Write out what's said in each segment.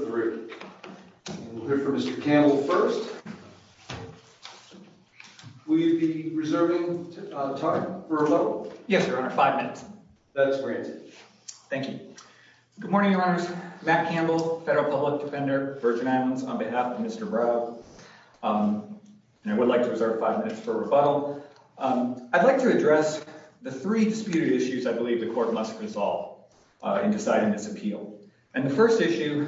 22-2203. We'll hear from Mr. Campbell first. Will you be reserving time for rebuttal? Yes, Your Honor. Five minutes. That's great. Thank you. Good morning, Your Honors. Matt Campbell, Federal Public Defender, Virgin Islands, on behalf of Mr. Brow. I would like to reserve five minutes for rebuttal. I'd like to address the three disputed issues I believe the court must resolve in deciding this appeal. And the first issue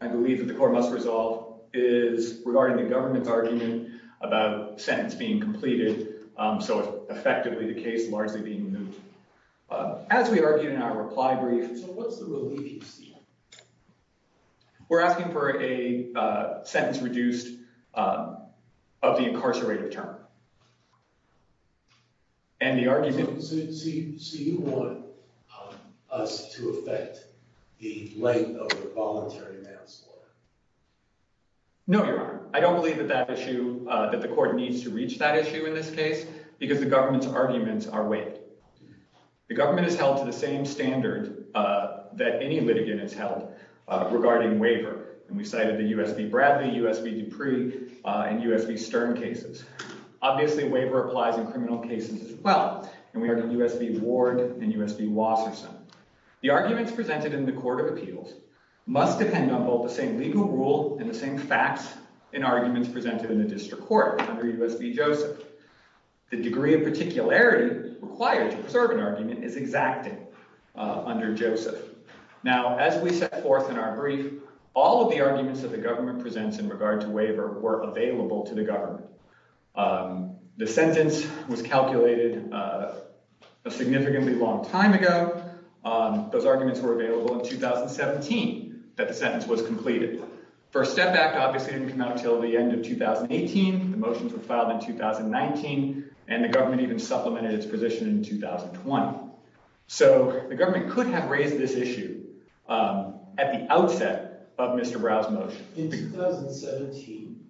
I believe that the court must resolve is regarding the government's argument about sentence being completed. So effectively the case largely being moot. As we argue in our reply brief, so what's the relief you see? We're asking for a sentence reduced of the incarcerated term. So you want us to affect the length of the voluntary manslaughter? No, Your Honor. I don't believe that the court needs to reach that issue in this case because the government's arguments are weighed. The government has held to the same standard that any litigant has held regarding waiver. And we cited the U.S.B. Bradley, U.S.B. Dupree, and U.S.B. Stern cases. Obviously, waiver applies in criminal cases as well. And we argue U.S.B. Ward and U.S.B. Wasserson. The arguments presented in the court of appeals must depend on both the same legal rule and the same facts in arguments presented in the district court under U.S.B. Joseph. The degree of particularity required to preserve an argument is exacted under Joseph. Now, as we set forth in our brief, all of the arguments that the government presents in regard to waiver were available to the government. The sentence was calculated a significantly long time ago. Those arguments were available in 2017 that the sentence was completed. First Step Act obviously didn't come out until the end of 2018. The motions were filed in 2019, and the government even supplemented its position in 2020. So the government could have raised this issue at the outset of Mr. Brown's motion. In 2017,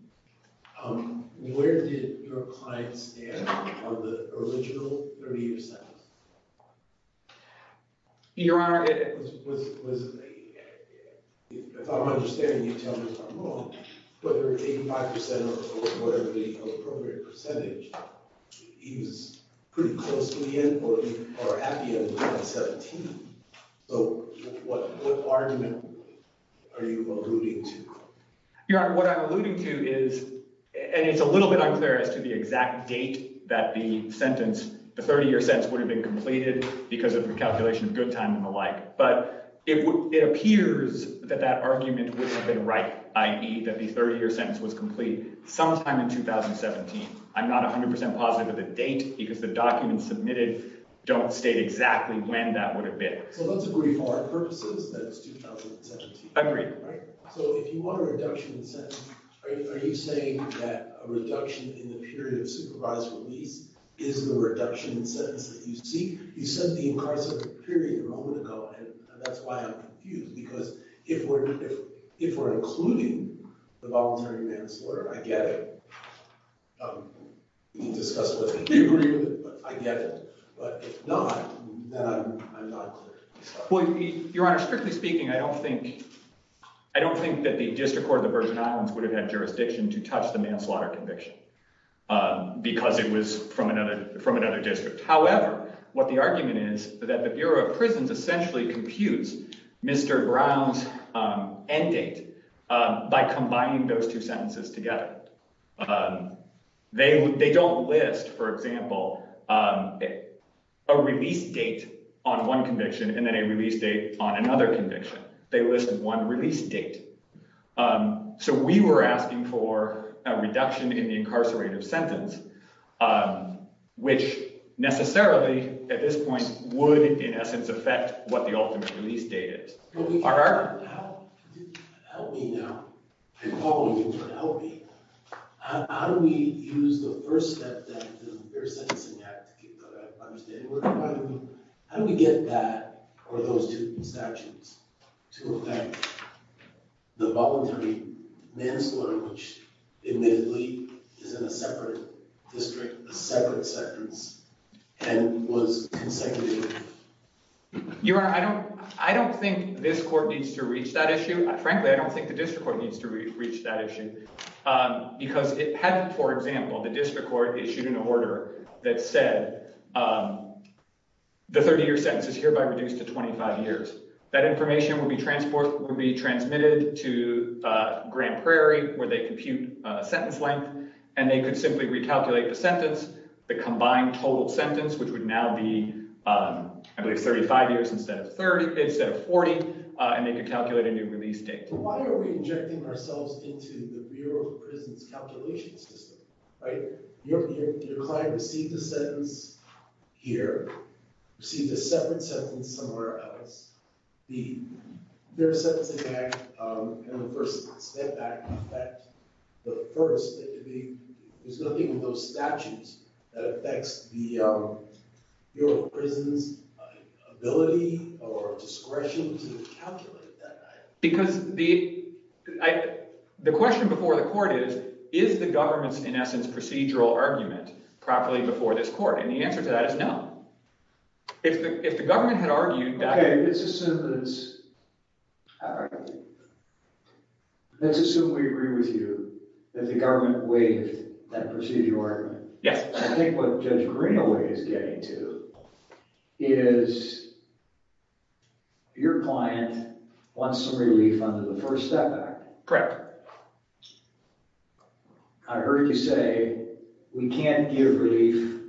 where did your client stand on the original 30-year sentence? Your Honor, it was, was, was, I thought I'm understanding you telling me if I'm wrong, whether it's 85% or whatever the appropriate percentage, he was pretty close to the end or at the end of 2017. So what, what argument are you alluding to? Your Honor, what I'm alluding to is, and it's a little bit unclear as to the exact date that the sentence, the 30-year sentence, would have been completed because of the calculation of good time and the like, but it appears that that argument would have been right, i.e. that the 30-year sentence was complete sometime in 2017. I'm not 100% positive of the date because the documents submitted don't state exactly when that would have been. So let's agree for our purposes that it's 2017. Agreed. So if you want a reduction in sentence, are you saying that a reduction in the period of supervised release is the reduction in sentence that you seek? You said the incarceration period a moment ago, and that's why I'm confused, because if we're, if we're including the voluntary manslaughter, I get it. We can discuss whether we agree with it, but I get it. But if not, then I'm, I'm not clear. Well, Your Honor, strictly speaking, I don't think, I don't think that the District Court of the Virgin Islands would have had jurisdiction to because it was from another, from another district. However, what the argument is that the Bureau of Prisons essentially computes Mr. Brown's end date by combining those two sentences together. They, they don't list, for example, a release date on one conviction and then a release date on another conviction. They list one release date. So we were asking for a reduction in the sentence, which necessarily at this point would in essence affect what the ultimate release date is. Help me now. I'm calling you to help me. How do we use the first step that the fair sentencing act, that I understand, how do we get that or those two statutes to affect the voluntary manslaughter, which admittedly is in a separate district, a separate sentence, and was consecutive? Your Honor, I don't, I don't think this court needs to reach that issue. Frankly, I don't think the District Court needs to reach that issue because it had, for example, the District Court issued an order that said the 30-year sentence is hereby reduced to 25 years. That information will be transported, will be transmitted to Grand Prairie where they compute a sentence length and they could simply recalculate the sentence, the combined total sentence, which would now be, I believe, 35 years instead of 30, instead of 40, and they could calculate a new release date. Why are we injecting ourselves into the Bureau of Prisons calculation system, right? Your client received the sentence here, received a separate sentence somewhere else, the Fair Sentencing Act and the First Step Act affect the first, there's nothing in those statutes that affects the Bureau of Prisons' ability or discretion to calculate that. Because the, I, the question before the court is, is the government's, in essence, procedural argument properly before this court? And the answer to that is no. If the, if the government had evidence, all right, let's assume we agree with you that the government waived that procedural argument. Yes. I think what Judge Greenaway is getting to is your client wants some relief under the First Step Act. Correct. I heard you say we can't give relief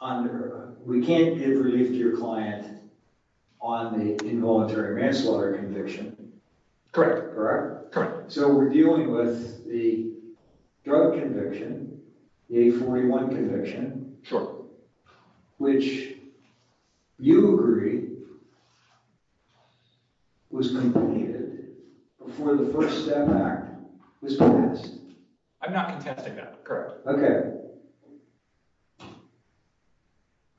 under, we can't give relief to your client on the involuntary manslaughter conviction. Correct. Correct? Correct. So we're dealing with the drug conviction, the 841 conviction. Sure. Which you agree was completed before the First Step Act was passed. I'm not contesting that. Correct. Okay.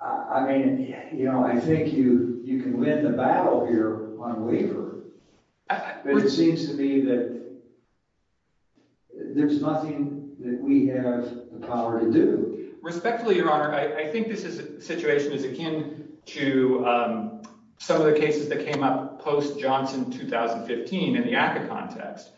I mean, you know, I think you, you can win the battle here on waiver, but it seems to me that there's nothing that we have the power to do. Respectfully, Your Honor, I think this is, the situation is akin to some of the cases that came up post-Johnson 2015 in the ACCA context,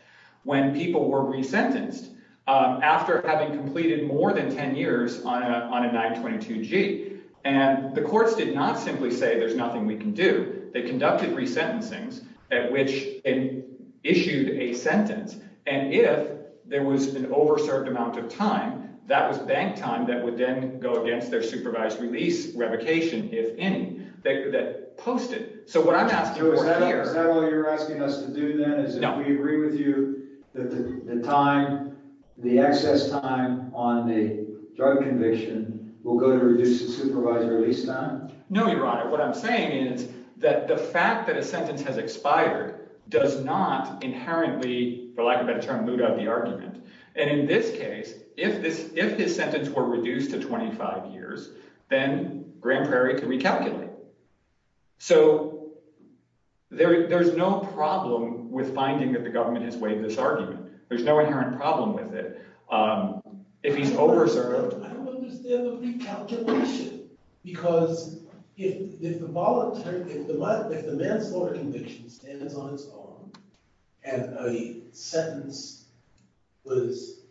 when people were resentenced after having completed more than 10 years on a 922-G. And the courts did not simply say, there's nothing we can do. They conducted resentencings at which they issued a sentence. And if there was an over-served amount of time, that was bank time that would then go against their supervised release revocation, if any, that posted. So what is that all you're asking us to do then? Is that we agree with you that the time, the excess time on the drug conviction will go to reduce the supervised release time? No, Your Honor. What I'm saying is that the fact that a sentence has expired does not inherently, for lack of a better term, boot out the argument. And in this case, if this, if his sentence were reduced to 25 years, then Grand Prairie could recalculate. So there's no problem with finding that the government has waived this argument. There's no inherent problem with it. If he's over-served... I don't understand the recalculation. Because if the voluntary, if the manslaughter conviction stands on its own, and a sentence was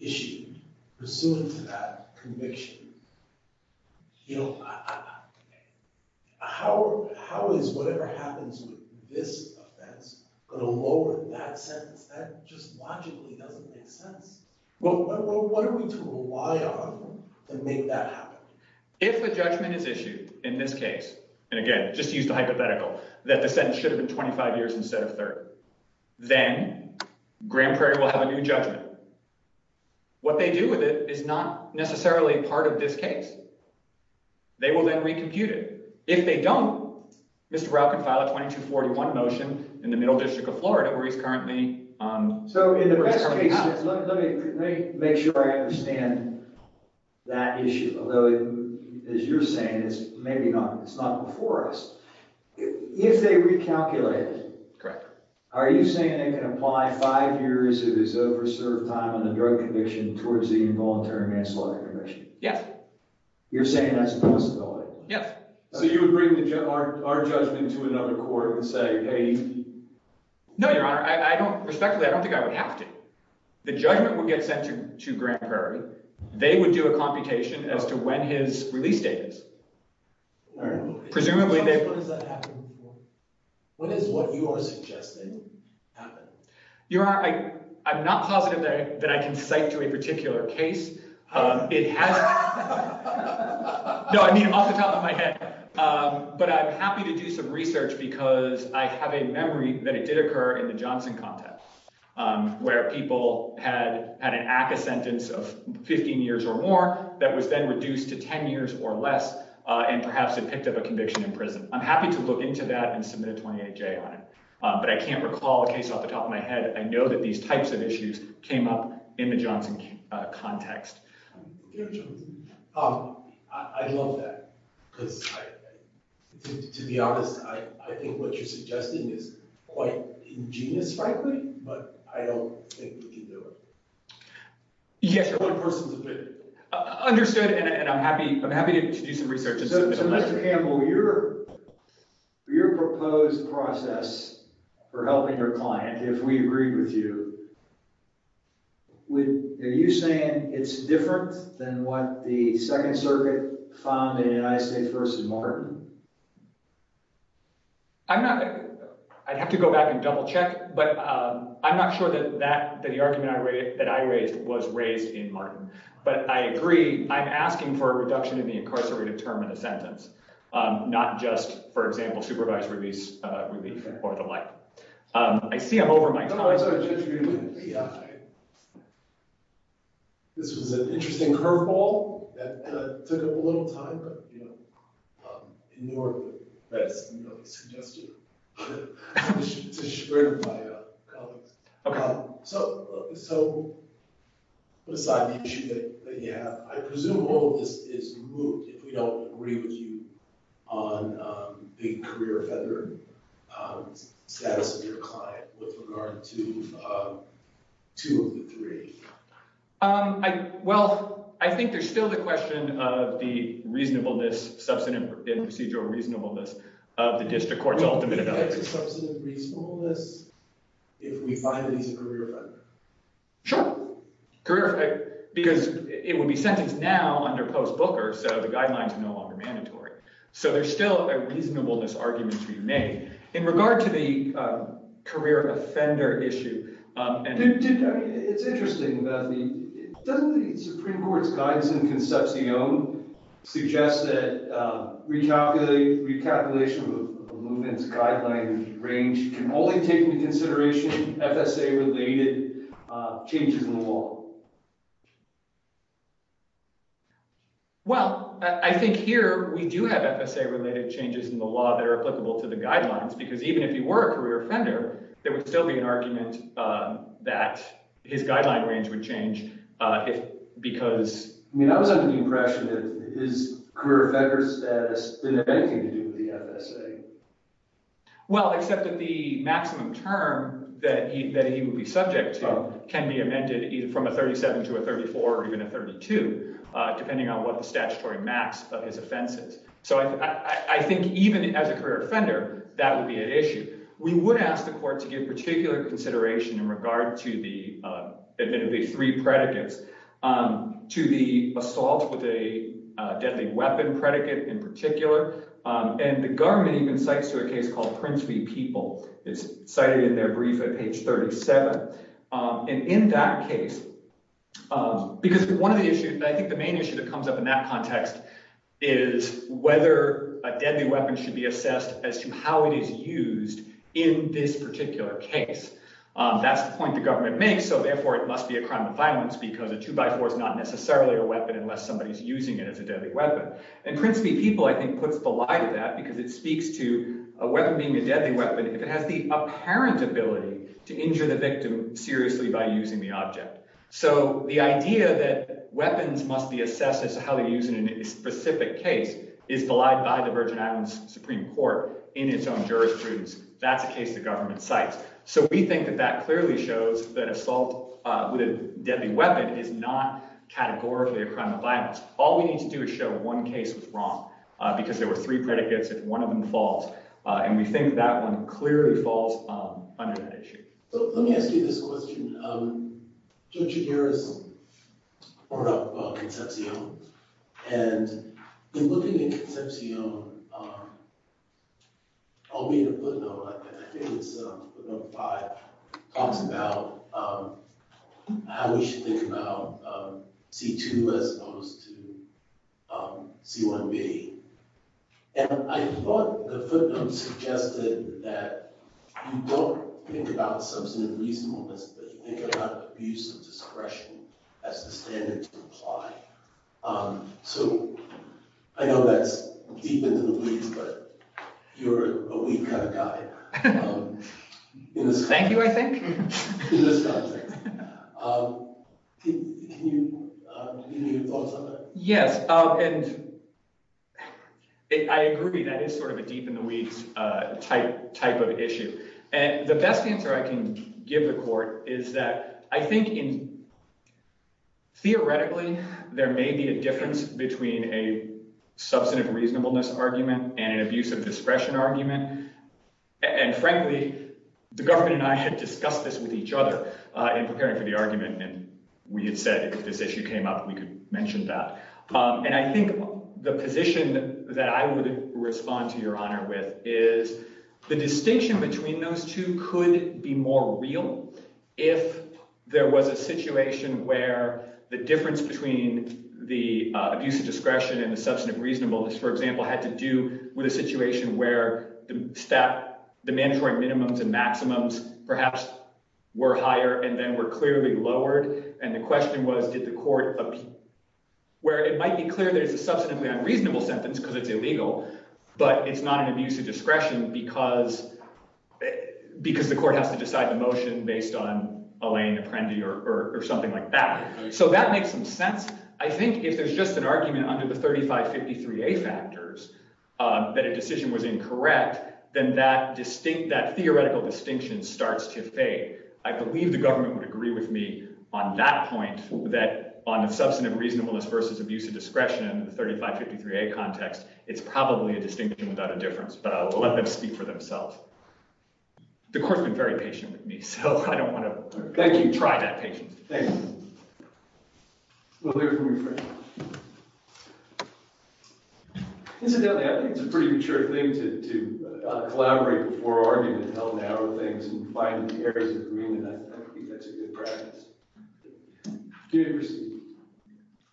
issued pursuant to that conviction, you know, how is whatever happens with this offense going to lower that sentence? That just logically doesn't make sense. Well, what are we to rely on to make that happen? If a judgment is issued, in this case, and again, just use the hypothetical, that the sentence should have been 25 years instead of 30, then Grand Prairie will have a new judgment. What they do with it is not necessarily part of this case. They will then recompute it. If they don't, Mr. Rauch can file a 2241 motion in the Middle District of Florida, where he's currently... So in the best case, let me make sure I understand that issue. Although, as you're maybe not, it's not before us. If they recalculate, are you saying they can apply five years of his over-served time on the drug conviction towards the involuntary manslaughter conviction? Yes. You're saying that's a possibility? Yes. So you would bring our judgment to another court and say, hey... No, Your Honor. I don't, respectfully, I don't think I would have to. The judgment will get sent to Grand Prairie. They would do a computation as to when his release date is. All right. Presumably they... What does that happen before? What is what you are suggesting happen? Your Honor, I'm not positive that I can cite to a particular case. It has... No, I mean off the top of my head. But I'm happy to do some research because I have a memory that it did occur in the Johnson context, where people had an ACCA sentence of 15 years or more that was then reduced to 10 years or less, and perhaps it picked up a conviction in prison. I'm happy to look into that and submit a 28-J on it. But I can't recall a case off the top of my head. I know that these types of issues came up in the Johnson context. I love that because, to be honest, I think what you're suggesting is quite ingenious, frankly, but I don't think we can do it. Yes. Understood, and I'm happy to do some research. So, Mr. Campbell, your proposed process for helping your client, if we agree with you, are you saying it's different than what the Second Circuit found in United States v. Martin? I'm not... I'd have to go back and double check, but I'm not sure that the argument that I raised was raised in Martin. But I agree. I'm asking for a reduction in the incarcerated term in the sentence, not just, for example, supervised release relief or the like. I see I'm over my time. This was an interesting curveball that took up a little time, but, you know, so put aside the issue that you have. I presume all of this is removed if we don't agree with you on the career offender status of your client with regard to two of the three. Well, I think there's still the question of the reasonableness, substantive and procedural reasonableness, of the district court's ultimate ability. Would you say it's a substantive reasonableness if we find that he's a career offender? Sure. Because it would be sentenced now under post-Booker, so the guidelines are no longer mandatory. So there's still a reasonableness argument to be made. In regard to the career offender issue... I mean, it's interesting that the... doesn't the Supreme Court's guidance in the movement's guideline range can only take into consideration FSA-related changes in the law? Well, I think here we do have FSA-related changes in the law that are applicable to the guidelines, because even if he were a career offender, there would still be an argument that his guideline range would change because... I mean, I was under the impression that his Well, except that the maximum term that he would be subject to can be amended either from a 37 to a 34 or even a 32, depending on what the statutory max of his offense is. So I think even as a career offender, that would be an issue. We would ask the court to give particular consideration in regard to the, admittedly, three predicates, to the assault with a deadly predicate in particular. And the government even cites to a case called Prince v. People. It's cited in their brief at page 37. And in that case... because one of the issues, I think the main issue that comes up in that context, is whether a deadly weapon should be assessed as to how it is used in this particular case. That's the point the government makes, so therefore it must be a crime of violence because a two-by-four is not necessarily a weapon unless somebody's using it as a deadly weapon. And Prince v. People, I think, puts the light of that because it speaks to a weapon being a deadly weapon if it has the apparent ability to injure the victim seriously by using the object. So the idea that weapons must be assessed as to how they're used in a specific case is belied by the Virgin Islands Supreme Court in its own jurisprudence. That's a case the government cites. So we think that that clearly shows that assault with a deadly weapon is not categorically a crime of violence. All we need to do is show one case was wrong because there were three predicates if one of them falls. And we think that one clearly falls under that issue. So let me ask you this question. Judge Aguirre's brought up Concepcion. And in looking at talks about how we should think about C-2 as opposed to C-1B. And I thought the footnote suggested that you don't think about substantive reasonableness, but you think about abuse of discretion as the standard to apply. So I know that's deep into the weeds, but you're a weak guy. Thank you, I think. Yes, and I agree that is sort of a deep in the weeds type of issue. And the best answer I can give the court is that I think theoretically there may be a difference between a discretion argument. And frankly, the government and I had discussed this with each other in preparing for the argument. And we had said if this issue came up, we could mention that. And I think the position that I would respond to your honor with is the distinction between those two could be more real if there was a situation where the difference between the abuse of discretion and the substantive reasonableness, for example, had to do with a situation where the statutory minimums and maximums perhaps were higher and then were clearly lowered. And the question was, did the court, where it might be clear that it's a substantively unreasonable sentence because it's illegal, but it's not an abuse of discretion because the court has to decide the motion based on Alain Apprendi or something like that. So that makes some sense. I think if there's just an argument under the 3553A factors that a decision was incorrect, then that theoretical distinction starts to fade. I believe the government would agree with me on that point that on the substantive reasonableness versus abuse of discretion in the 3553A context, it's probably a distinction without a difference, but I'll let them speak for themselves. The court's been very patient with me, so I don't want to try that patience. Thank you. We'll hear from your friend. Incidentally, I think it's a pretty mature thing to collaborate before arguing in hell and arrow things and find the areas of agreement. I think that's a good practice. Good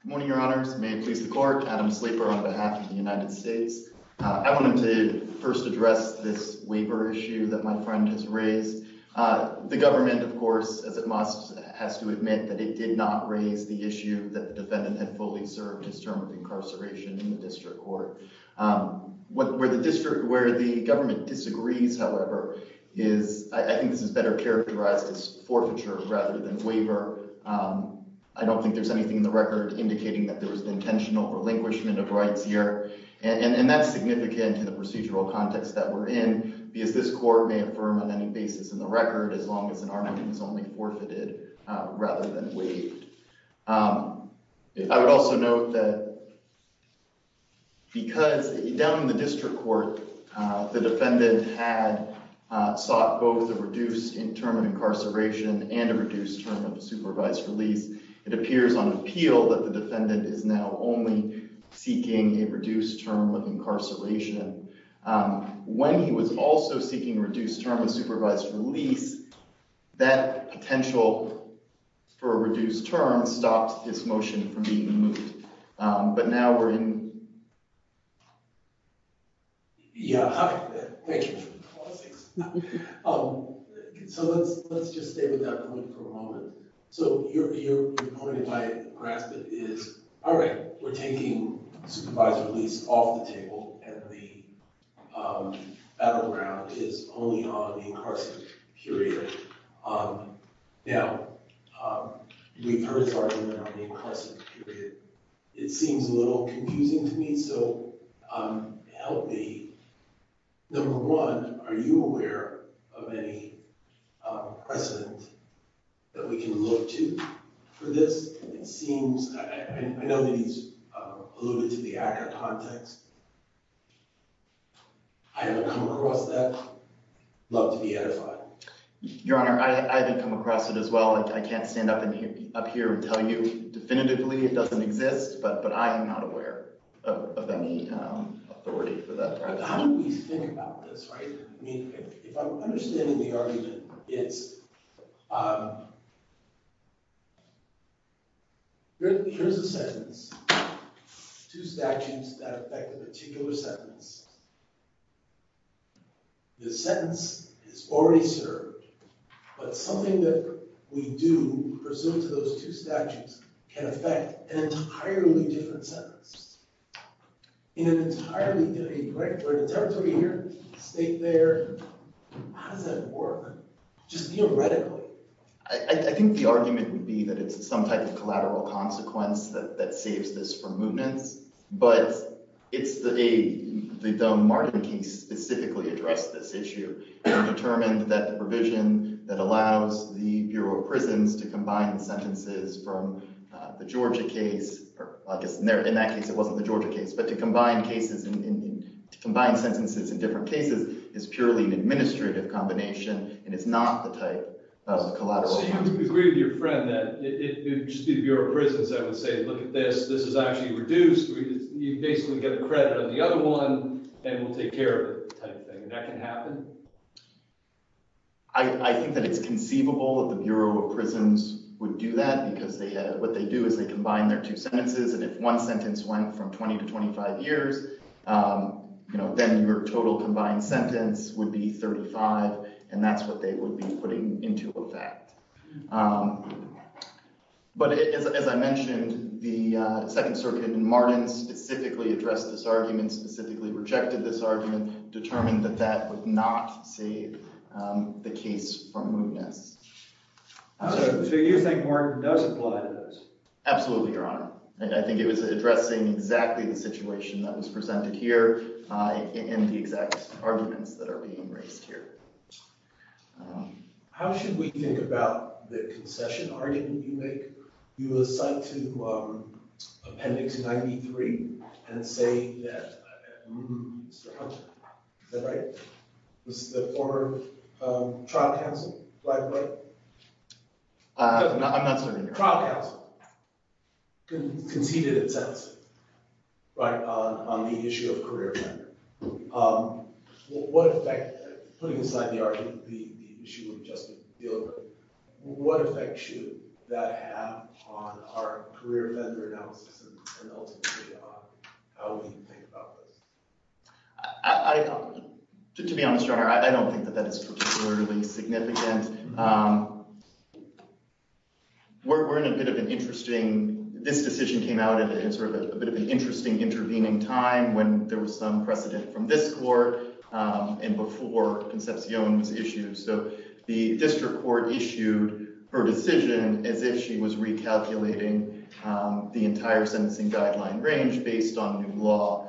morning, your honors. May it please the court. Adam Sleeper on behalf of the United States. I wanted to first address this waiver issue that my friend has raised. The government, of course, as it must, has to admit that it did not raise the issue that the defendant had fully served his term of incarceration in the district court. Where the government disagrees, however, is I think this is better characterized as forfeiture rather than waiver. I don't think there's anything in the record indicating that there was intentional relinquishment of rights and that's significant to the procedural context that we're in because this court may affirm on any basis in the record as long as an argument is only forfeited rather than waived. I would also note that because down in the district court the defendant had sought both a reduced term of incarceration and a reduced term of supervised release, it appears on appeal that the defendant is now only seeking a reduced term of incarceration. When he was also seeking reduced term of supervised release, that potential for a reduced term stopped his motion from being moved. But now we're in... Yeah, hi. Thank you. So let's just stay with that point for a moment. So your point, if I grasp it, is all right, we're taking supervised release off the table and the battleground is only on the incarceration period. Now, we've heard this argument on the incarceration period. It seems a little confusing to me, so help me. Number one, are you aware of any precedent that we can look to for this? It seems... I know that he's alluded to the ACCA context. I haven't come across that. Love to be edified. Your Honor, I haven't come across it as well. I can't stand up here and tell you definitively it doesn't exist, but I am not aware of any authority for that. But how do we think about this, right? I mean, if I'm understanding the argument, it's... Here's a sentence, two statutes that affect a particular sentence. The sentence is already served, but something that we do, presumed to those two statutes, can affect an entirely different sentence. In an entirely different territory here, state there, how does that work? Just theoretically. I think the argument would be that it's some type of collateral consequence that saves this from movements, but the Martin case specifically addressed this issue and determined that the provision that allows the Bureau of Prisons to combine sentences from the Georgia case... In that case, it wasn't the Georgia case, but to combine sentences in different cases is purely an administrative combination and it's not the type of collateral... So you would agree with your friend that it would just be the Bureau of Prisons that would say, look at this, this is actually reduced. You basically get a credit on the other one and we'll take care of it, type of thing. That can happen? I think that it's conceivable that the Bureau of Prisons would do that because what they do is they combine their two sentences and if one sentence went from 20 to 25 years, then your total combined sentence would be 35 and that's what they would be putting into effect. But as I mentioned, the Second Circuit in Martin specifically addressed this argument, specifically rejected this argument, determined that that would not save the case from movements. So you think Martin does apply to this? Absolutely, Your Honor. I think it was addressing exactly the situation that was presented here and the exact arguments that are being raised here. How should we think about the concession argument you make? You assign to Appendix 93 and say that Mr. Hunter, is that right? Was the former trial counsel black and white? I'm not certain. Trial counsel conceded a sentence, right, on the issue of career tenure. What effect, putting aside the argument, the issue of justice, what effect should that have on our career vendor analysis and ultimately how we think about this? To be honest, Your Honor, I don't think that that is particularly significant. We're in a bit of an interesting, this decision came out in sort of a bit of an interesting intervening time when there was some precedent from this court and before Concepcion was issued. So the district court issued her decision as if she was recalculating the entire sentencing guideline range based on new law.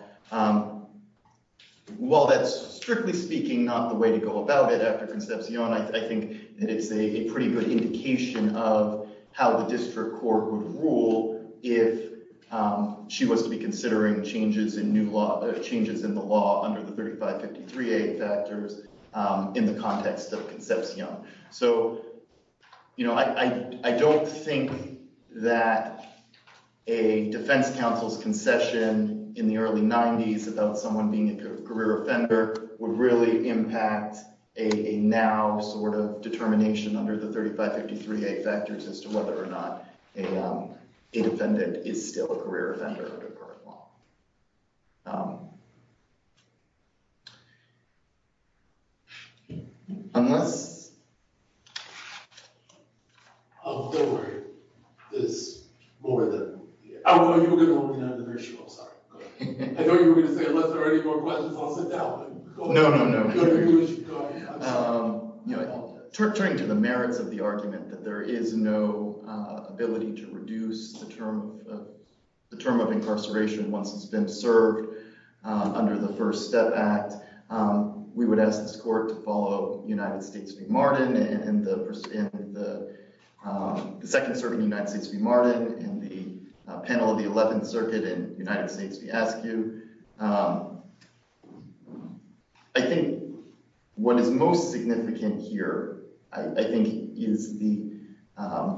While that's, strictly speaking, not the way to go about it after Concepcion, I think that it's a pretty good indication of how the district court would rule if she was to be considering changes in new law, changes in the law under the 3553A factors in the context of Concepcion. So, you know, I don't think that a defense counsel's concession in the early 90s about someone being a career offender would really impact a now sort of defendant is still a career offender under current law. Unless... Oh, don't worry. There's more than, oh, you were going to open up the virtual, I'm sorry. I thought you were going to say, unless there are any more questions, I'll sit down. No, no, no. You know, turning to the merits of the argument that there is no ability to reduce the term of incarceration once it's been served under the First Step Act, we would ask this court to follow United States v. Martin and the second circuit in United States v. Martin and the panel of the 11th circuit in United States v. ASCU. I think what is most significant here, I think, is the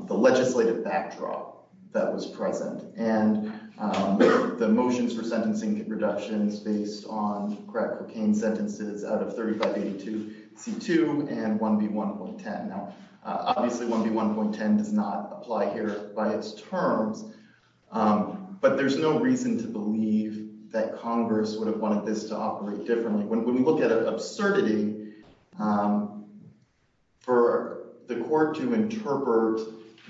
legislative backdrop that was present and the motions for sentencing reductions based on crack cocaine sentences out of 3582C2 and 1B1.10. Now, obviously, 1B1.10 does not apply here by its terms, but there's no reason to believe that Congress would have wanted this to for the court to interpret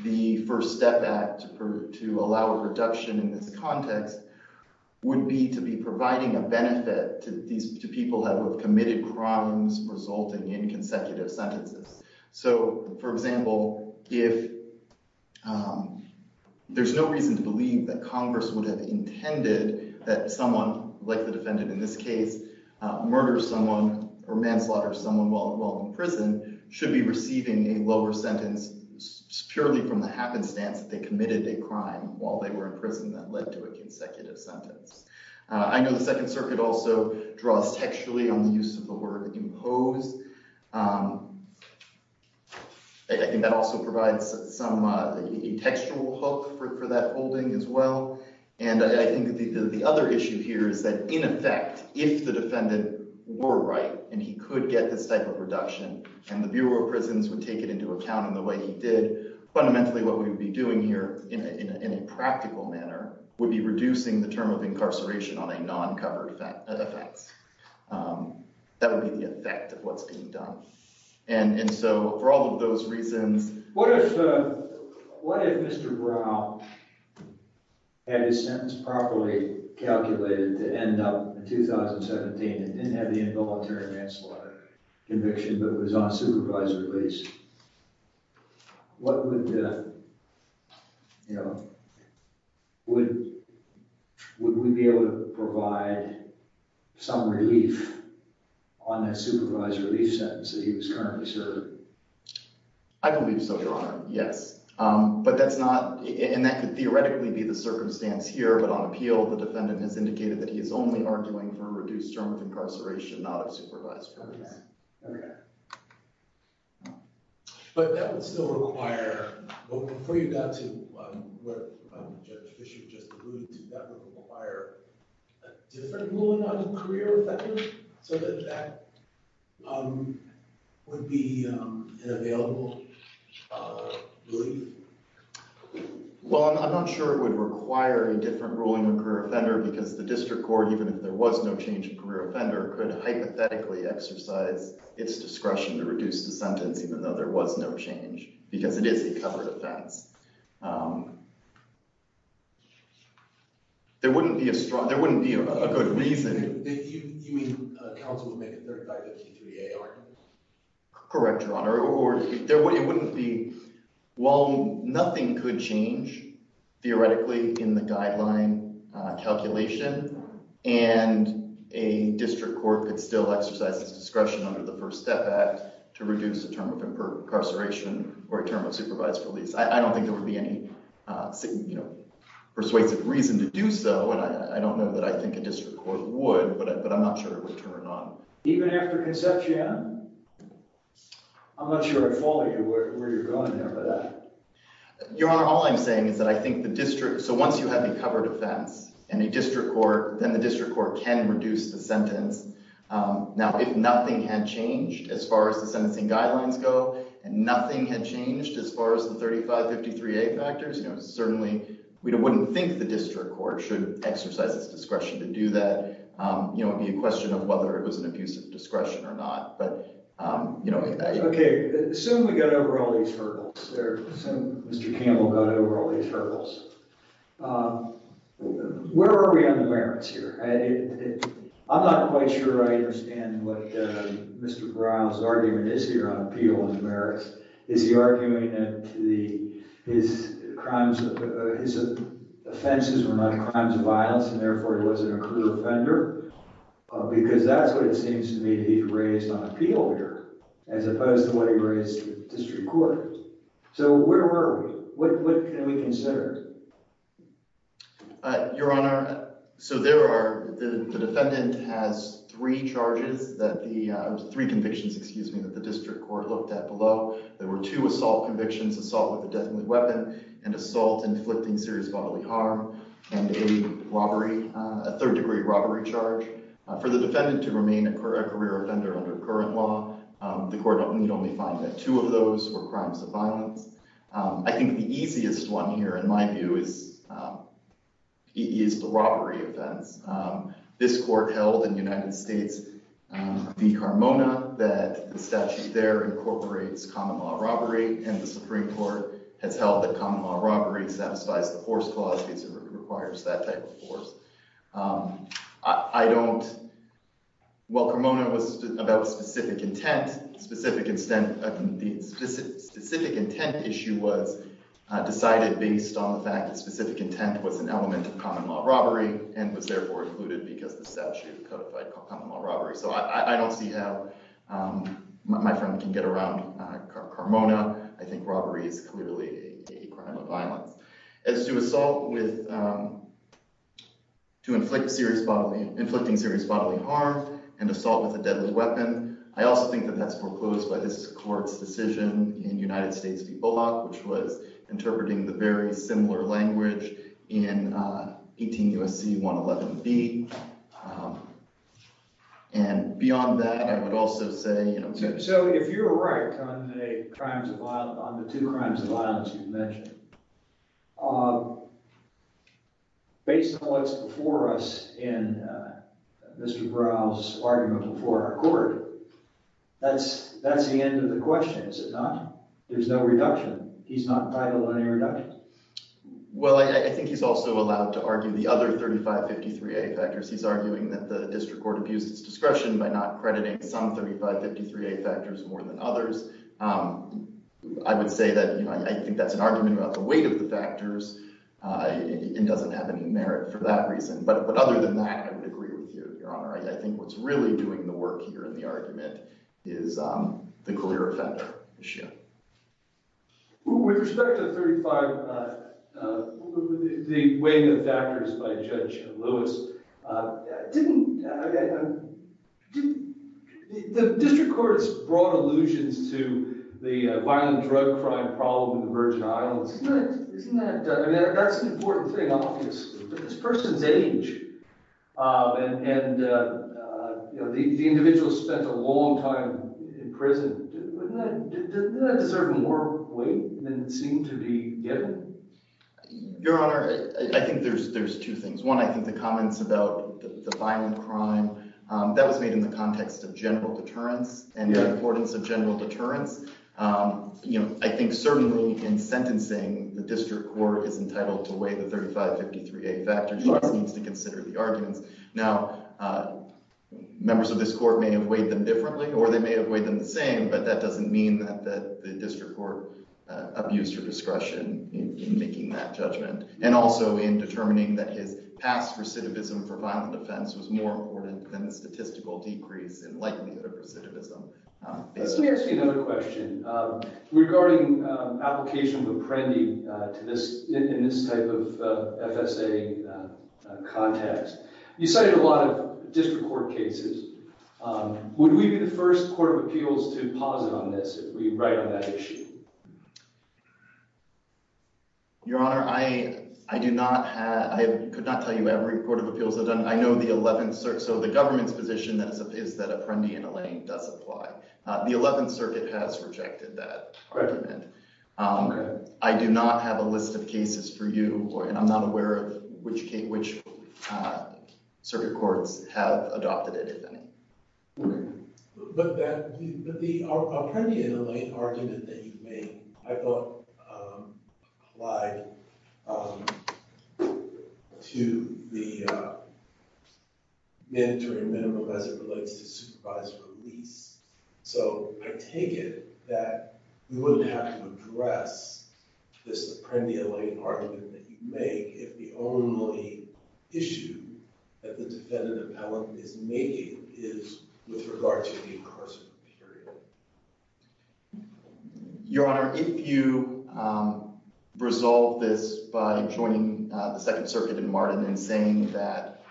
the First Step Act to allow a reduction in this context would be to be providing a benefit to people who have committed crimes resulting in consecutive sentences. So, for example, if there's no reason to believe that Congress would have intended that someone, like the defendant in this case, murder someone or manslaughter someone while in prison should be receiving a lower sentence purely from the happenstance that they committed a crime while they were in prison that led to a consecutive sentence. I know the second circuit also draws textually on the use of the word impose. I think that also provides some textual hook for that holding as well. And I think the other issue here is that, in effect, if the defendant were right and he could get this type of reduction and the Bureau of Prisons would take it into account in the way he did, fundamentally what we'd be doing here in a practical manner would be reducing the term of incarceration on a non-covered effects. That would be the effect of what's being done. And so, for all of those reasons... What if Mr. Brown had his sentence properly calculated to end up in 2017 and didn't have the involuntary manslaughter conviction but was on supervisory lease? What would Would we be able to provide some relief on that supervised release sentence that he was currently serving? I believe so, Your Honor. Yes. But that's not... And that could theoretically be the circumstance here, but on appeal the defendant has indicated that he is only arguing for a reduced term of But before you got to what Judge Fischer just alluded to, that would require a different ruling on the career offender so that that would be an available relief? Well, I'm not sure it would require a different ruling on the career offender because the district court, even if there was no change in career offender, could hypothetically exercise its discretion to reduce the sentence even though there was no change because it is a covered offense. There wouldn't be a strong... There wouldn't be a good reason... You mean counsel would make a third guide to P3A, aren't it? Correct, Your Honor. Or it wouldn't be... While nothing could change theoretically in the guideline calculation and a district court could still exercise its discretion. I don't think there would be any persuasive reason to do so, and I don't know that I think a district court would, but I'm not sure it would turn it on. Even after Concepcion, I'm not sure I follow you where you're going here, but... Your Honor, all I'm saying is that I think the district... So once you have a covered offense in a district court, then the district court can reduce the sentence. Now, if nothing had changed as far as the sentencing guidelines go and nothing had changed as far as the 3553A factors, certainly we wouldn't think the district court should exercise its discretion to do that. It would be a question of whether it was an abusive discretion or not, but... Okay. Assume we got over all these hurdles. Assume Mr. Campbell got over all these I'm not quite sure I understand what Mr. Brown's argument is here on appeal and merits. Is he arguing that his offenses were not crimes of violence and therefore he wasn't a clear offender? Because that's what it seems to me he raised on appeal here, as opposed to what he raised with district court. So where were we? What can we consider? Your Honor, so there are the defendant has three charges that the... Three convictions, excuse me, that the district court looked at below. There were two assault convictions, assault with a deathly weapon, and assault inflicting serious bodily harm, and a robbery, a third degree robbery charge. For the defendant to remain a career offender under current law, the court need only find that two of those were crimes of violence. I think the easiest one here in my view is the robbery offense. This court held in the United States v. Carmona that the statute there incorporates common law robbery, and the Supreme Court has held that common law robbery satisfies the force clause because it requires that type of force. I don't... Well, Carmona was about specific intent, specific intent... The specific intent issue was decided based on the fact that specific common law robbery, and was therefore included because the statute codified common law robbery. So I don't see how my friend can get around Carmona. I think robbery is clearly a crime of violence. As to assault with... To inflict serious bodily... Inflicting serious bodily harm, and assault with a deadly weapon, I also think that that's foreclosed by this court's decision in United States v. Bullock, which was interpreting the very similar language in 18 U.S.C. 111b. And beyond that, I would also say, you know... So if you're right on the two crimes of violence you've mentioned, based on what's before us in Mr. Brown's argument before our court, that's the end of the question, is it not? There's no reduction. He's not entitled to any reduction. Well, I think he's also allowed to argue the other 3553a factors. He's arguing that the district court abused its discretion by not crediting some 3553a factors more than others. I would say that, you know, I think that's an argument about the weight of the factors, and doesn't have any merit for that reason. But other than that, I would agree with you, and the argument is the clear effect issue. With respect to the 35... the weighing of factors by Judge Lewis, the district court's broad allusions to the violent drug crime problem in the Virgin Islands, isn't that... I mean, that's an important thing, obviously. But this person's age, and the individual spent a long time in prison, doesn't that deserve more weight than it seemed to be given? Your Honor, I think there's two things. One, I think the comments about the violent crime, that was made in the context of general deterrence, and the importance of the district court is entitled to weigh the 3553a factors. He needs to consider the arguments. Now, members of this court may have weighed them differently, or they may have weighed them the same, but that doesn't mean that the district court abused your discretion in making that judgment. And also in determining that his past recidivism for violent offense was more important than the statistical decrease in likelihood of recidivism. Let me ask you another question. Regarding application of Apprendi in this type of FSA context, you cited a lot of district court cases. Would we be the first court of appeals to posit on this if we write on that issue? Your Honor, I do not have... I could not tell you every court of appeals that I've done. I know the 11th Circuit... so the government's position is that Apprendi and Allain does apply. The 11th Circuit has rejected that argument. I do not have a list of cases for you, and I'm not aware of which circuit courts have adopted it, if any. But the Apprendi and Allain argument that you made, I thought, applied to the mandatory minimum as it relates to supervised release. So I take it that we wouldn't have to address this Apprendi and Allain argument that you make if the only issue that the defendant appellant is making is with regard to the incarceration period. Your Honor, if you resolve this by joining the Second Circuit in Martin and saying that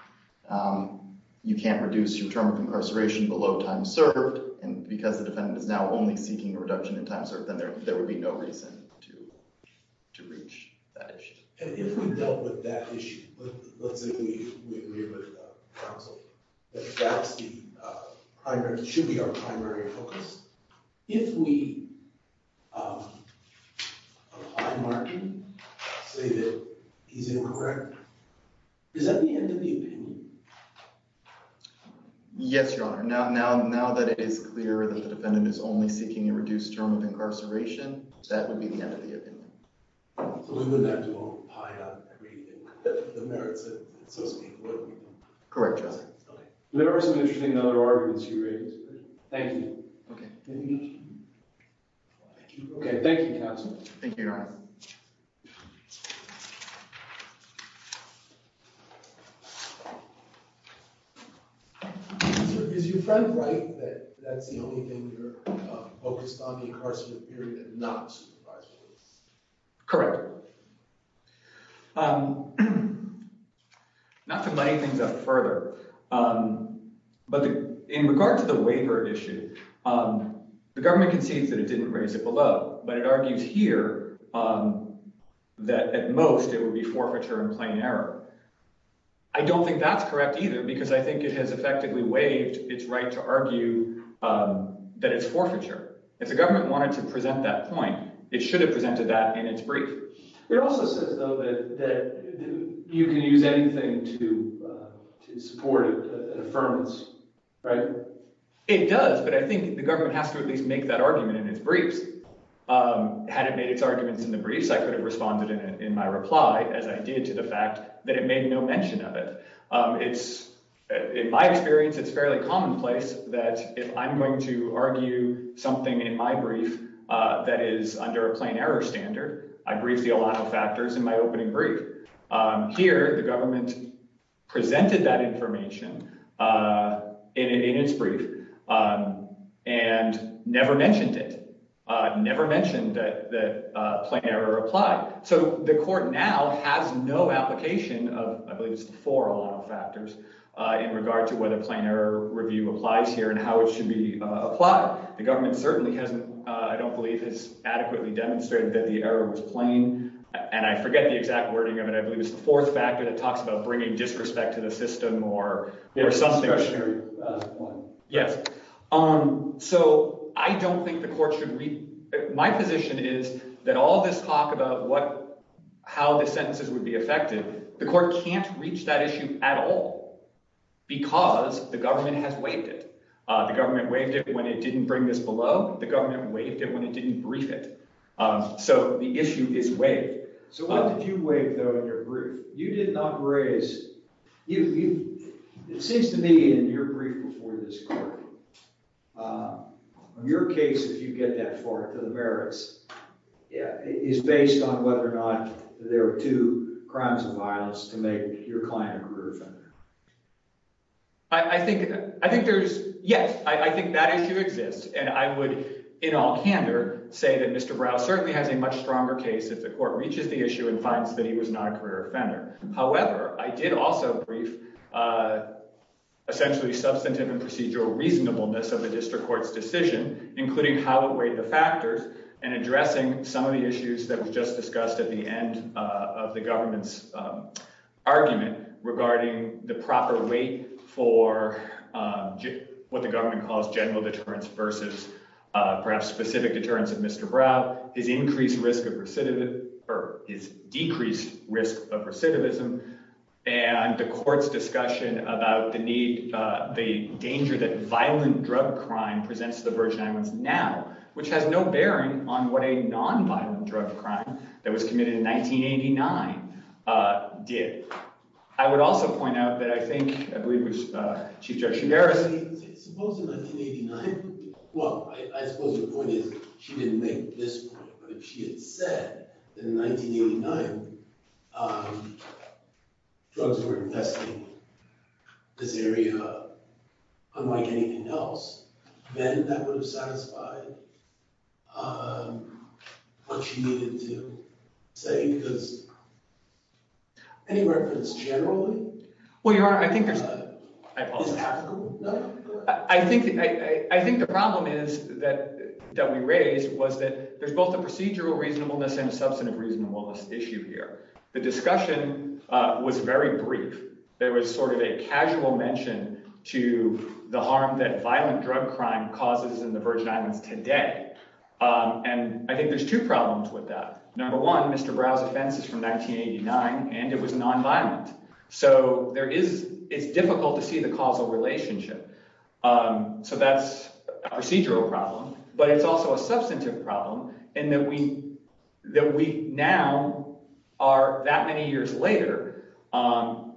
you can't reduce your term of incarceration below time served, and because the defendant is now only seeking a reduction in time served, then there would be no reason to reach that issue. And if we dealt with that issue, let's say we agree with counsel that should be our primary focus, if we apply Martin, say that he's incorrect, is that the end of the opinion? Yes, Your Honor. Now that it is clear that the defendant is only seeking a reduced term of incarceration, that would be the end of the opinion. So we wouldn't have to go and apply on everything, the merits that so speak, would we? Correct, Your Honor. Okay. Thank you. Okay, thank you, counsel. Thank you, Your Honor. Is your friend right that that's the only thing you're focused on, the incarceration period, and not supervised release? Correct. Not to lighten things up further, but in regard to the waiver issue, the government concedes that it didn't raise it below, but it argues here that at most it would be forfeiture and plain error. I don't think that's correct either, because I think it has effectively waived its right to argue that it's forfeiture. If the government wanted to present that point, it should have presented that in its brief. It also says, though, that you can use anything to support an affirmance, right? It does, but I think the government has to at least make that argument in its briefs. Had it made its arguments in the briefs, I could have responded in my reply as I did to the fact that it made no mention of it. In my experience, it's fairly commonplace that if I'm going to in my brief that is under a plain error standard, I brief the alano factors in my opening brief. Here, the government presented that information in its brief and never mentioned it, never mentioned that plain error applied. So the court now has no application of, I believe it's the four alano factors, in regard to whether plain error review applies here and how it should be applied. The government certainly hasn't, I don't believe, has adequately demonstrated that the error was plain. And I forget the exact wording of it. I believe it's the fourth factor that talks about bringing disrespect to the system or something. Yes. So I don't think the court should... My position is that all this talk about how the sentences would be affected, the court can't reach that issue at all, because the government has waived it. The government waived it when it didn't bring this below. The government waived it when it didn't brief it. So the issue is waived. So what did you waive though in your brief? You did not raise... It seems to me in your brief before this court, your case, if you get that far to the merits, is based on whether or not there were two crimes of violence to make your client a career offender. I think there's... Yes. I think that issue exists. And I would, in all candor, say that Mr. Brow certainly has a much stronger case if the court reaches the issue and finds that he was not a career offender. However, I did also brief essentially substantive and procedural reasonableness of the district court's decision, including how it weighed the factors and addressing some of the issues that were just discussed at the end of the government's argument regarding the proper weight for what the government calls general deterrence versus perhaps specific deterrence of Mr. Brow, his increased risk of recidivism, or his decreased risk of recidivism, and the court's discussion about the need, the danger that violent drug crime presents the Virgin Islands now, which has no drug crime, that was committed in 1989 did. I would also point out that I think, I believe, was Chief Judge Chigueras... Suppose in 1989... Well, I suppose the point is she didn't make this point, but if she had said that in 1989 drugs were infesting this area unlike anything else, then that would have satisfied what she needed to say because any reference generally... Well, Your Honor, I think there's... I think the problem is that we raised was that there's both a procedural reasonableness and a substantive reasonableness issue here. The discussion was very brief. There was sort of a casual mention to the harm that violent drug crime causes in the Virgin today, and I think there's two problems with that. Number one, Mr. Brow's offense is from 1989, and it was non-violent, so there is... It's difficult to see the causal relationship, so that's a procedural problem, but it's also a substantive problem in that we now are that many years later, and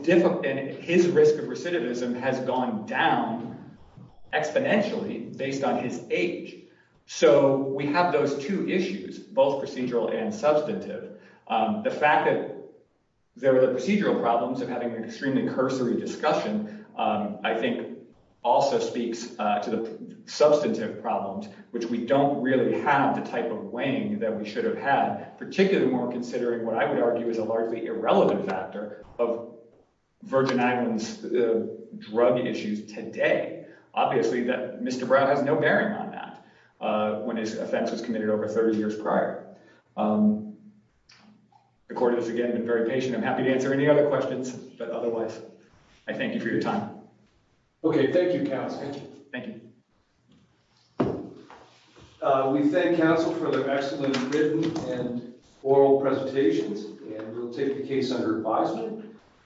his risk of recidivism has gone down exponentially based on his age, so we have those two issues, both procedural and substantive. The fact that there were the procedural problems of having an extremely cursory discussion, I think, also speaks to the substantive problems, which we don't really have the type of weighing that we should have had, particularly more considering what I would argue is a largely irrelevant factor of Virgin Islands drug issues today. Obviously, Mr. Brow has no bearing on that when his offense was committed over 30 years prior. The court has, again, been very patient. I'm happy to answer any other questions, but otherwise, I thank you for your time. Okay, thank you, counsel. Thank you. We thank counsel for their excellent written and oral presentations, and we'll take the case under advisement.